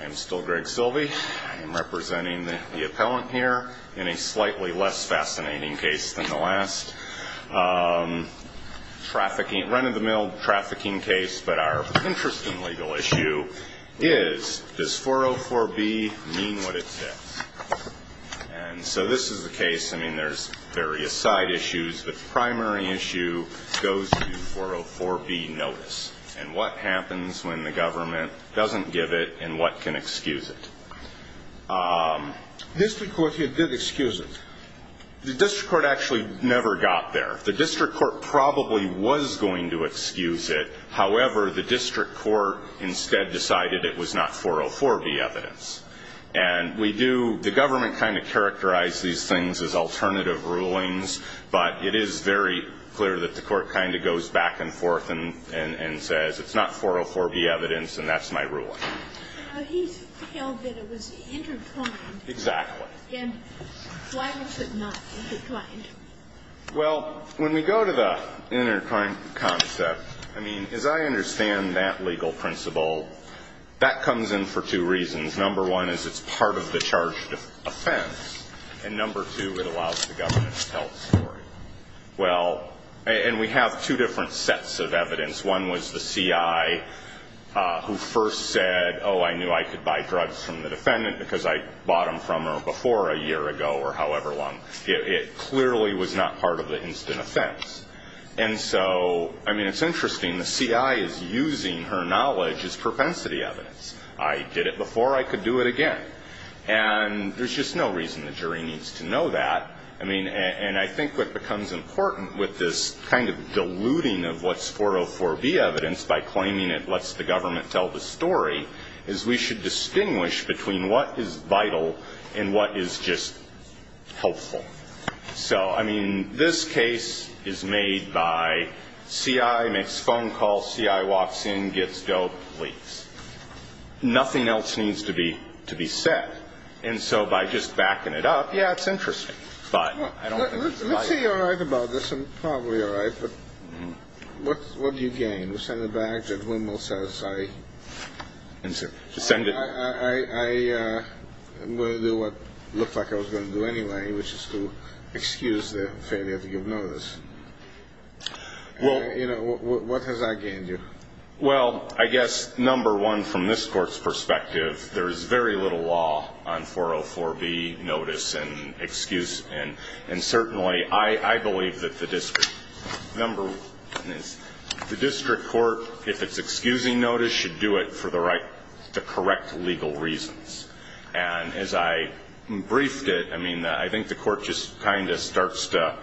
I am still Greg Silvey. I am representing the appellant here in a slightly less fascinating case than the last Trafficking, run-of-the-mill trafficking case, but our interesting legal issue is Does 404b mean what it says? And so this is the case. I mean there's various side issues the primary issue Goes to 404b notice, and what happens when the government doesn't give it and what can excuse it? District Court here did excuse it The district court actually never got there the district court probably was going to excuse it however the district court Instead decided it was not 404b evidence And we do the government kind of characterize these things as alternative rulings But it is very clear that the court kind of goes back and forth and and and says it's not 404b evidence and that's my ruling Exactly Well when we go to the inner coin concept I mean as I understand that legal principle that comes in for two reasons number one is it's part of the charge Offense and number two it allows the government to tell the story Well, and we have two different sets of evidence one was the CI Who first said oh I knew I could buy drugs from the defendant because I bought them from her before a year ago Or however long it clearly was not part of the instant offense And so I mean it's interesting the CI is using her knowledge as propensity evidence I did it before I could do it again and There's just no reason the jury needs to know that I mean and I think what becomes important with this kind of diluting of what's 404b evidence by claiming it lets the government tell the story is we should distinguish between what is vital and what is just Helpful, so I mean this case is made by CI makes phone calls CI walks in gets dope leaks Nothing else needs to be to be said and so by just backing it up. Yeah, it's interesting, but Probably all right, but what what do you gain? We send it back to the women says I and send it I Will do what looks like I was going to do anyway, which is to excuse the failure to give notice Well, you know what has I gained you well, I guess number one from this court's perspective There is very little law on 404b notice and excuse and and certainly I I believe that the district number the district court if it's excusing notice should do it for the right to correct legal reasons and as I Briefed it. I mean I think the court just kind of starts to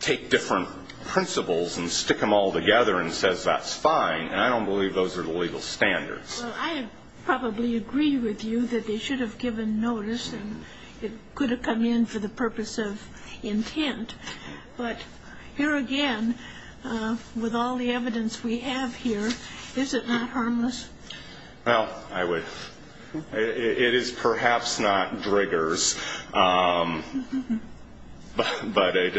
Take different principles and stick them all together and says that's fine, and I don't believe those are the legal standards I probably agree with you that they should have given notice and it could have come in for the purpose of intent But here again With all the evidence we have here. Is it not harmless? Well, I would It is perhaps not triggers But But I'd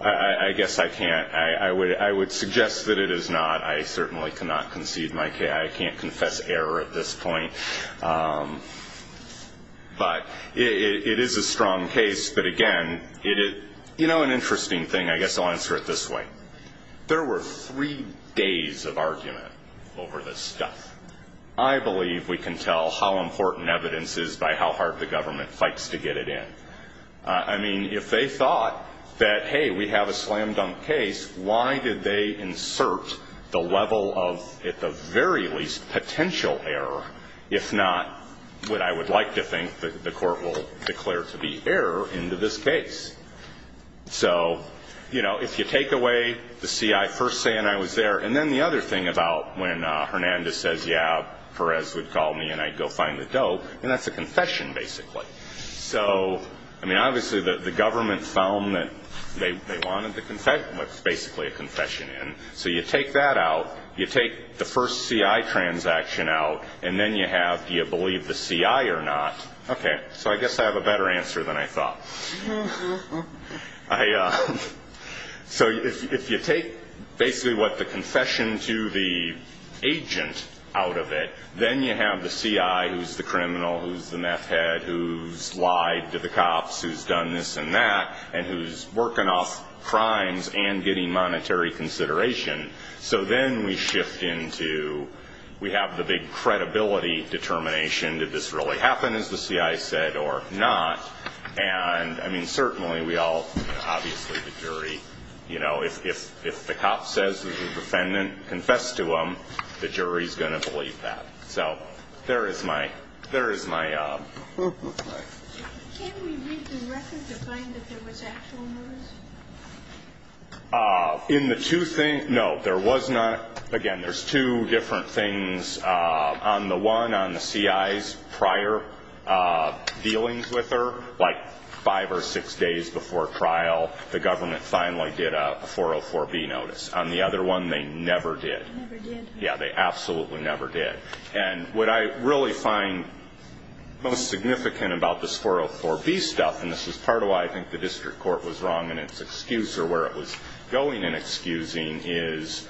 I Guess I can't I would I would suggest that it is not I certainly cannot concede my care I can't confess error at this point But it is a strong case, but again it is you know an interesting thing I guess I'll answer it this way there were three days of argument over this stuff. I I Mean if they thought that hey we have a slam-dunk case Why did they insert the level of at the very least potential error if not? What I would like to think that the court will declare to be error into this case So, you know if you take away the CI first saying I was there and then the other thing about when Hernandez says Perez would call me and I'd go find the dope and that's a confession basically So, I mean obviously the the government found that they wanted to confess What's basically a confession in so you take that out you take the first CI? Transaction out and then you have do you believe the CI or not? Okay, so I guess I have a better answer than I thought So if you take basically what the confession to the Agent out of it then you have the CI who's the criminal who's the meth head who's? Lied to the cops who's done this and that and who's working off crimes and getting monetary consideration So then we shift into We have the big credibility determination did this really happen as the CI said or not and I mean certainly we all Obviously the jury, you know if the cop says the defendant confessed to them the jury's gonna believe that so there is my there is my In the two things no there was not again, there's two different things on the one on the CI's prior Dealings with her like five or six days before trial the government finally did a 404 B notice on the other one. They never did Yeah, they absolutely never did and what I really find most significant about this 404 B stuff and this was part of why I think the district court was wrong and it's excuse or where it was going in excusing is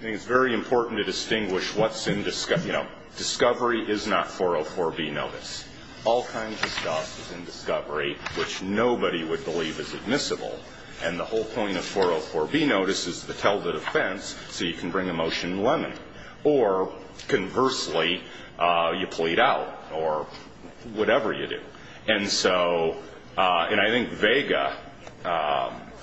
It's very important to distinguish what's in discover, you know Discovery is not 404 B. Notice all kinds of stuff is in discovery Which nobody would believe is admissible and the whole point of 404 B notice is to tell the defense so you can bring a motion in lemon or conversely you plead out or Whatever you do and so And I think Vega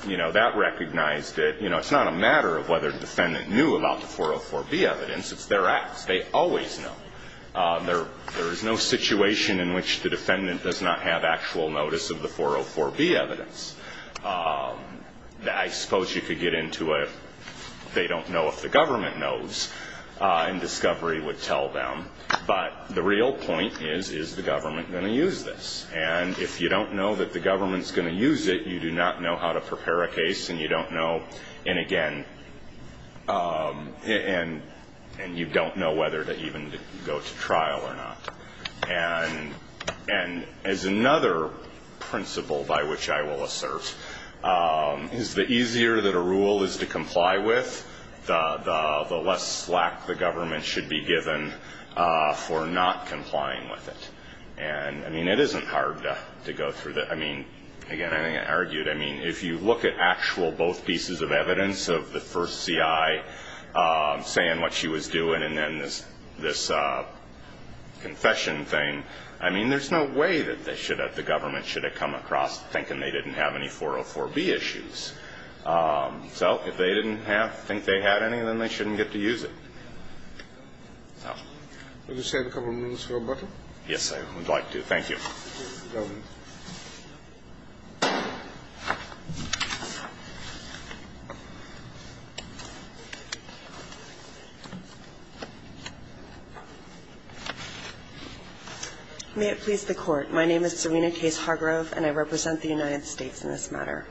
You know that recognized it, you know, it's not a matter of whether the defendant knew about the 404 B evidence It's their acts. They always know There there is no situation in which the defendant does not have actual notice of the 404 B evidence That I suppose you could get into it They don't know if the government knows And discovery would tell them but the real point is is the government going to use this and if you don't know that the government's Use it. You do not know how to prepare a case and you don't know and again And and you don't know whether to even go to trial or not and and as another principle by which I will assert Is the easier that a rule is to comply with? The the less slack the government should be given For not complying with it and I mean it isn't hard to go through that. I mean again, I argued I mean if you look at actual both pieces of evidence of the first CI Saying what she was doing and then this this Confession thing. I mean, there's no way that they should have the government should have come across thinking they didn't have any 404 B issues So if they didn't have think they had any then they shouldn't get to use it Yes, I would like to thank you May it please the court. My name is Serena case Hargrove and I represent the United States in this matter.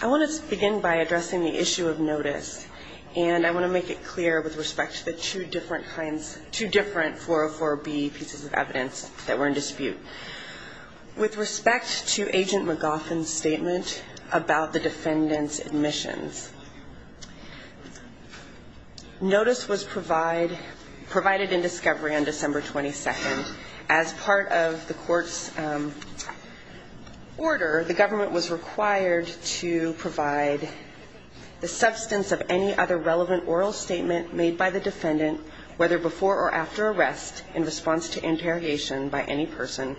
I Want to begin by addressing the issue of notice and I want to make it clear with respect to the two different kinds two different 404 B pieces of evidence that were in dispute With respect to agent MacGuffin statement about the defendants admissions Notice was provide provided in discovery on December 22nd as part of the court's Order the government was required to provide The substance of any other relevant oral statement made by the defendant whether before or after arrest in response to interrogation by any person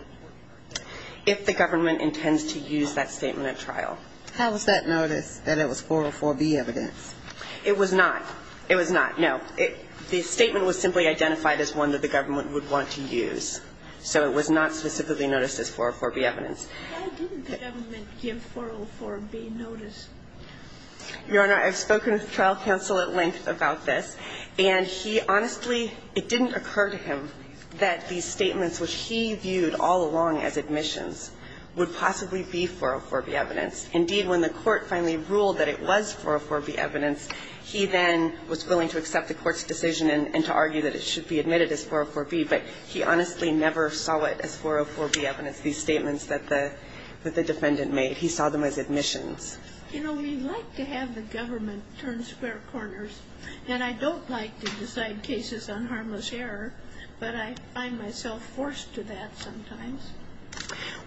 If the government intends to use that statement at trial, how was that notice that it was 404 B evidence? It was not it was not know it the statement was simply identified as one that the government would want to use So it was not specifically noticed as 404 B evidence Your honor I've spoken with trial counsel at length about this and he honestly it didn't occur to him that These statements which he viewed all along as admissions would possibly be 404 B evidence Indeed when the court finally ruled that it was 404 B evidence He then was willing to accept the court's decision and to argue that it should be admitted as 404 B But he honestly never saw it as 404 B evidence these statements that the that the defendant made he saw them as admissions To have the government turn square corners and I don't like to decide cases on harmless error But I find myself forced to that sometimes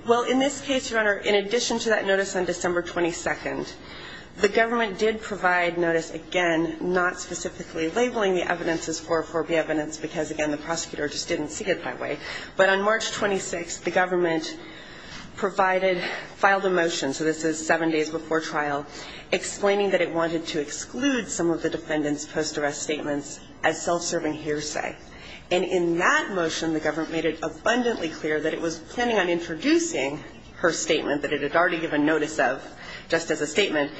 Well in this case your honor in addition to that notice on December 22nd The government did provide notice again Not specifically labeling the evidence as 404 B evidence because again the prosecutor just didn't see it that way but on March 26 the government Provided filed a motion. So this is seven days before trial explaining that it wanted to exclude some of the defendants post-arrest statements as Self-serving hearsay and in that motion the government made it abundantly clear that it was planning on introducing Her statement that it had already given notice of just as a statement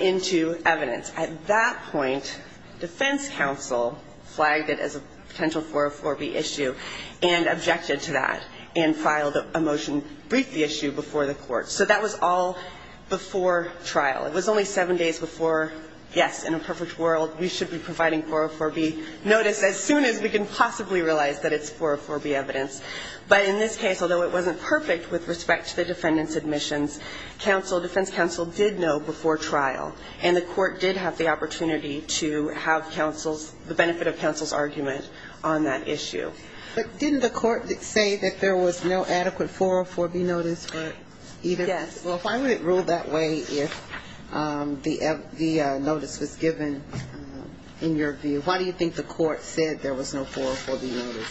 into evidence at that point defense counsel flagged it as a potential 404 B issue and Objected to that and filed a motion briefed the issue before the court. So that was all Before trial it was only seven days before Yes in a perfect world We should be providing 404 B notice as soon as we can possibly realize that it's 404 B evidence But in this case, although it wasn't perfect with respect to the defendants admissions Counsel defense counsel did know before trial and the court did have the opportunity to have Counsel's the benefit of counsel's argument on that issue But didn't the court that say that there was no adequate 404 B notice for either? Yes. Well, if I would it ruled that way if The the notice was given In your view, why do you think the court said there was no 404 B notice?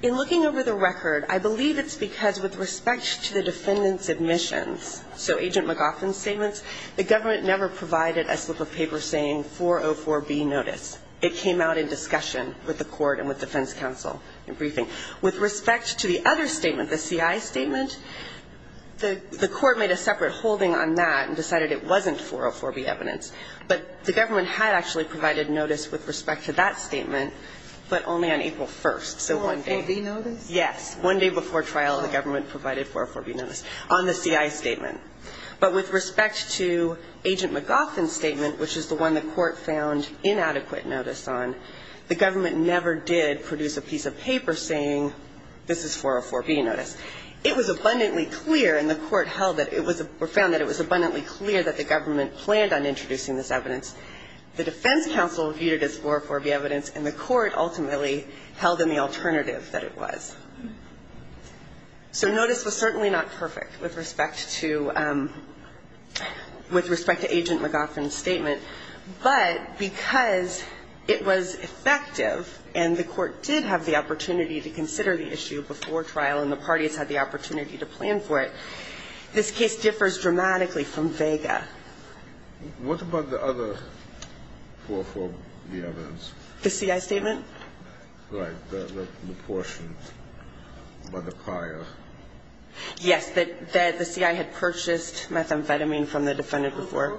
In looking over the record, I believe it's because with respect to the defendants admissions So agent McLaughlin statements the government never provided a slip of paper saying 404 B notice It came out in discussion with the court and with defense counsel in briefing with respect to the other statement the CI statement The the court made a separate holding on that and decided it wasn't 404 B evidence But the government had actually provided notice with respect to that statement, but only on April 1st Yes one day before trial the government provided 404 B notice on the CI statement But with respect to agent McLaughlin statement Which is the one the court found inadequate notice on the government never did produce a piece of paper saying This is 404 B notice It was abundantly clear and the court held that it was a profound that it was abundantly clear that the government planned on introducing This evidence the defense counsel viewed it as 404 B evidence and the court ultimately held in the alternative that it was So notice was certainly not perfect with respect to With respect to agent McLaughlin statement, but because it was effective And the court did have the opportunity to consider the issue before trial and the parties had the opportunity to plan for it This case differs dramatically from vega What about the other 404 B evidence the CI statement right the portion by the prior Yes, that the CI had purchased methamphetamine from the defendant before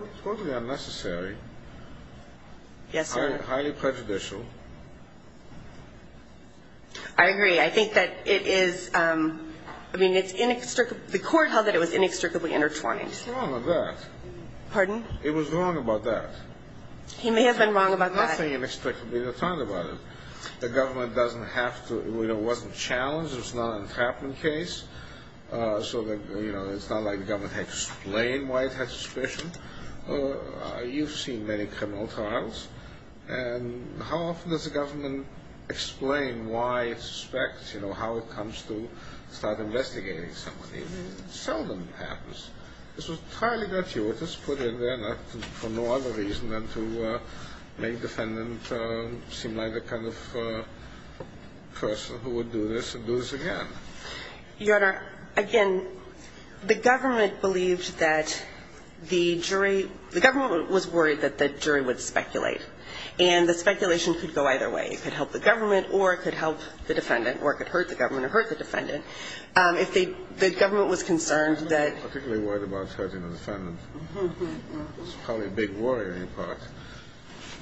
Yes, sir highly prejudicial I Agree I think that it is I mean it's inextricably the court held that it was inextricably intertwined Pardon, it was wrong about that He may have been wrong about nothing inextricably the time about it. The government doesn't have to you know wasn't challenged It's not a trapping case So that you know, it's not like government had to explain why it had suspicion you've seen many criminal trials and How often does the government? Explain why it suspects, you know how it comes to start investigating somebody Seldom happens. This was highly gratuitous put in there not for no other reason than to make defendant Seem like the kind of Person who would do this and do this again Your honor again the government believed that The jury the government was worried that the jury would speculate and the speculation could go either way It could help the government or it could help the defendant or could hurt the government or hurt the defendant If they the government was concerned that Probably big worry in part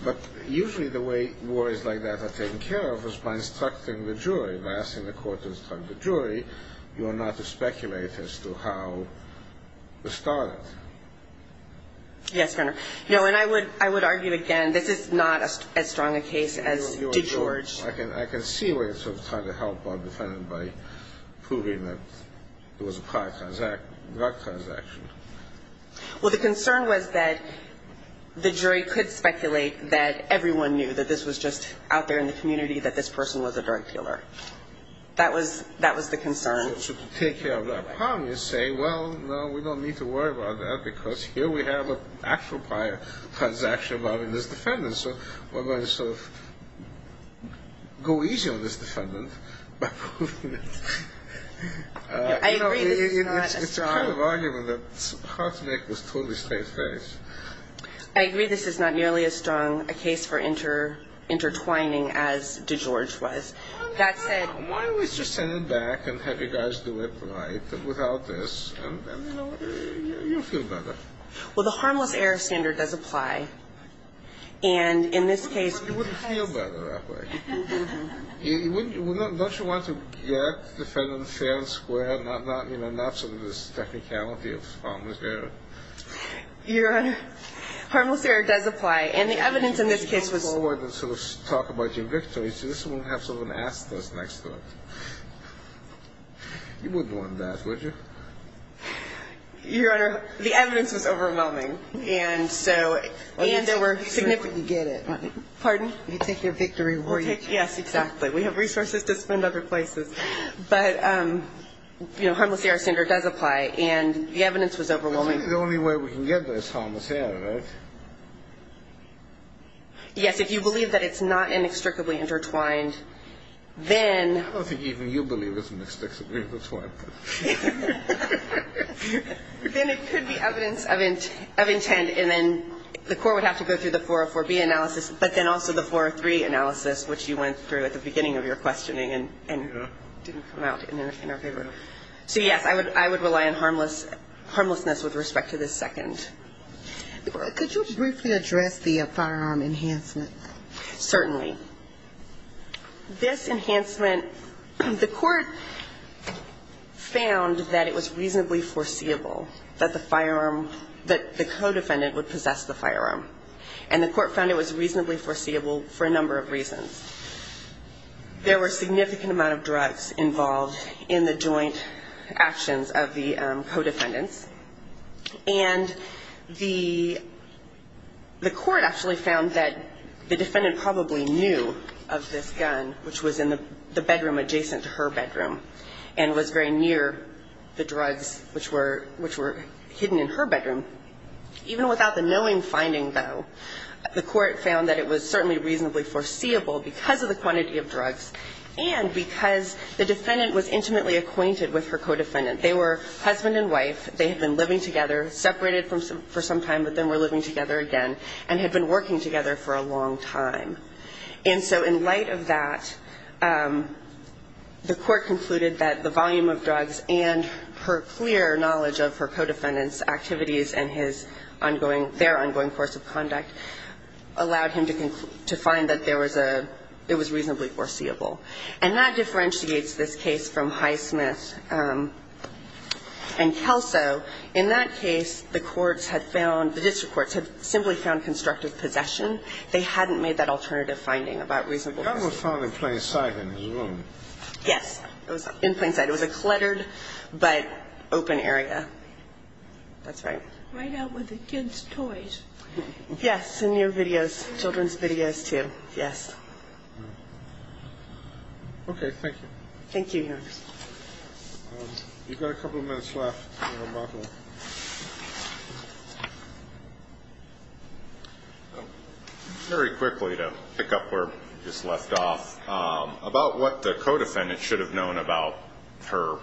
But usually the way war is like that are taken care of us by instructing the jury last in the court is from the jury You are not to speculate as to how? the start Yes, no, and I would I would argue again, this is not as strong a case as George I can I can see where it's of trying to help on defendant by Proving that it was a prior transact not transaction well, the concern was that The jury could speculate that everyone knew that this was just out there in the community that this person was a drug dealer That was that was the concern to take care of that problem. You say well No, we don't need to worry about that because here we have a actual prior transaction about in this defendant. So we're going to sort of Go easy on this defendant I agree this is not a strong argument It's hard to make this totally straight face. I agree. This is not nearly as strong a case for inter Intertwining as DeGeorge was that said why don't we just send him back and have you guys do it right without this? Well, the harmless error standard does apply and in this case You Don't you want to get the federal fair and square and I'm not you know, not some of this technicality of Your honor Harmless error does apply and the evidence in this case was more than sort of talk about your victory So this will have someone asked us next to it You wouldn't want that would you Your honor the evidence was overwhelming and so and there were significant you get it pardon you take their victory We're yes. Exactly. We have resources to spend other places, but You know harmless error standard does apply and the evidence was overwhelming. The only way we can get this harmless error Yes, if you believe that it's not inextricably intertwined then Then it could be evidence of it of intent and then the court would have to go through the 404 B analysis but then also the 403 analysis which you went through at the beginning of your questioning and So, yes, I would I would rely on harmless harmlessness with respect to this second Could you briefly address the firearm enhancement? certainly This enhancement the court Found that it was reasonably foreseeable That the firearm that the co-defendant would possess the firearm and the court found it was reasonably foreseeable for a number of reasons there were significant amount of drugs involved in the joint actions of the co-defendants and The the court actually found that the defendant probably knew of this gun which was in the And was very near the drugs which were which were hidden in her bedroom Even without the knowing finding though the court found that it was certainly reasonably foreseeable because of the quantity of drugs and Because the defendant was intimately acquainted with her co-defendant. They were husband and wife They had been living together separated from some for some time But then we're living together again and had been working together for a long time. And so in light of that The court concluded that the volume of drugs and her clear knowledge of her co-defendants activities and his Ongoing their ongoing course of conduct Allowed him to conclude to find that there was a it was reasonably foreseeable and that differentiates this case from Highsmith And Kelso in that case the courts had found the district courts have simply found constructive possession They hadn't made that alternative finding about reasonable found in plain sight in his room. Yes, it was in plain sight It was a cluttered but open area That's right right out with the kids toys Yes in your videos children's videos, too. Yes Okay, thank you, thank you Very quickly to pick up where just left off About what the co-defendant should have known about her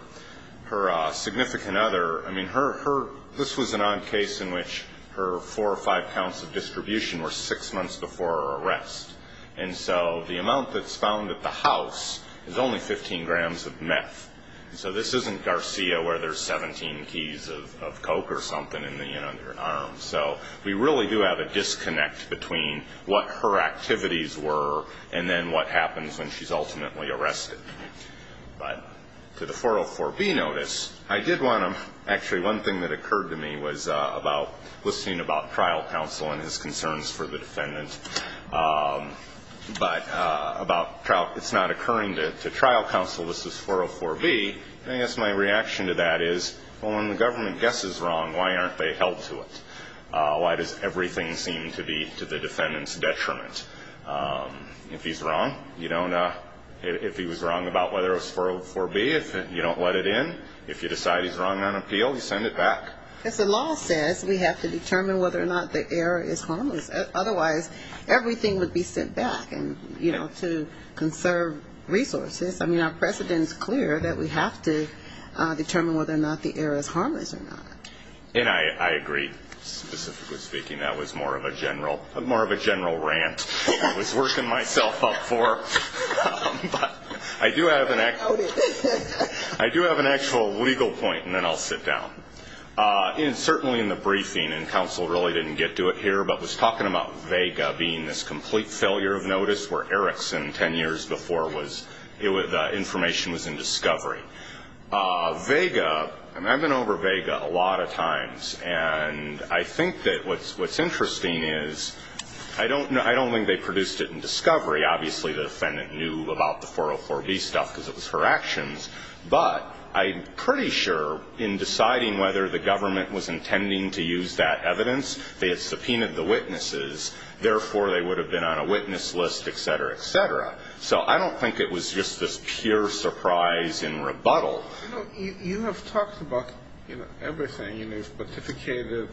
her Significant other I mean her her this was an odd case in which her four or five pounds of distribution were six months before Arrest and so the amount that's found at the house is only 15 grams of meth So this isn't Garcia where there's 17 keys of coke or something in the you know their arms So we really do have a disconnect between what her activities were and then what happens when she's ultimately arrested But to the 404 be notice I did want him actually one thing that occurred to me was about listening about trial counsel and his concerns for the defendant But about trial it's not occurring to trial counsel. This is 404 B I guess my reaction to that is well when the government guess is wrong. Why aren't they held to it? Why does everything seem to be to the defendants detriment? If he's wrong, you don't know if he was wrong about whether it was 404 B If you don't let it in if you decide he's wrong on appeal You send it back as the law says we have to determine whether or not the error is harmless Otherwise everything would be sent back and you know to conserve resources. I mean our precedents clear that we have to Speaking that was more of a general and more of a general rant. I was working myself up for But I do have an act. I do have an actual legal point and then I'll sit down In certainly in the briefing and counsel really didn't get to it here But was talking about Vega being this complete failure of notice where Erickson ten years before was it with information was in discovery Vega and I've been over Vega a lot of times and I think That what's what's interesting is I don't know I don't think they produced it in discovery obviously the defendant knew about the 404 B stuff because it was her actions But I'm pretty sure in deciding whether the government was intending to use that evidence They had subpoenaed the witnesses Therefore they would have been on a witness list etc. Etc. So I don't think it was just this pure surprise in rebuttal You have talked about you know everything you need but if you can't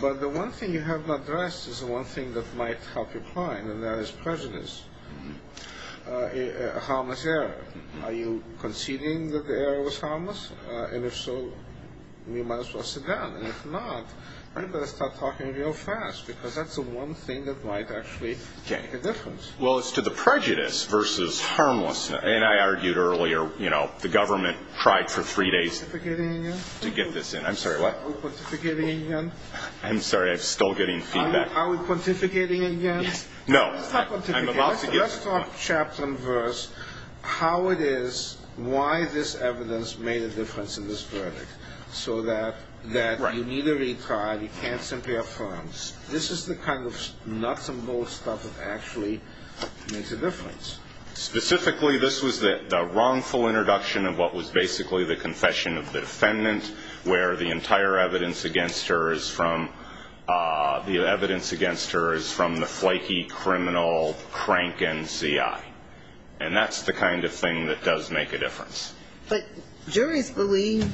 But the one thing you have not addressed is the one thing that might help your client and that is prejudice Harmless error are you conceding that the error was harmless and if so We might as well sit down and if not I'm gonna start talking real fast because that's the one thing that might actually Well, it's to the prejudice versus harmlessness and I argued earlier, you know the government tried for three days To get this in I'm sorry I'm sorry. I'm still getting feedback. Are we pontificating again? Yes. No Chapter verse How it is why this evidence made a difference in this verdict so that that you need a retrial? You can't simply affirms. This is the kind of nuts and bolts stuff that actually makes a difference Specifically this was the wrongful introduction of what was basically the confession of the defendant where the entire evidence against her is from The evidence against her is from the flaky criminal crank NCI And that's the kind of thing that does make a difference, but juries believe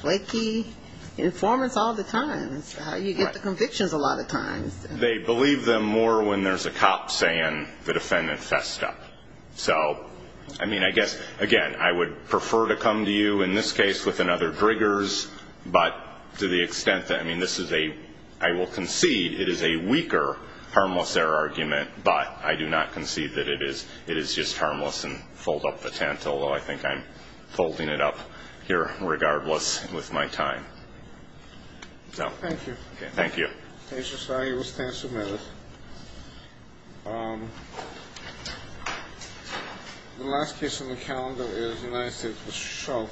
flaky Informants all the time you get the convictions a lot of times They believe them more when there's a cop saying the defendant fessed up So, I mean, I guess again, I would prefer to come to you in this case with another triggers But to the extent that I mean, this is a I will concede it is a weaker harmless error argument But I do not concede that it is it is just harmless and fold up the tent Although I think I'm folding it up here regardless with my time So, thank you. Thank you The last piece of the calendar is nice it was show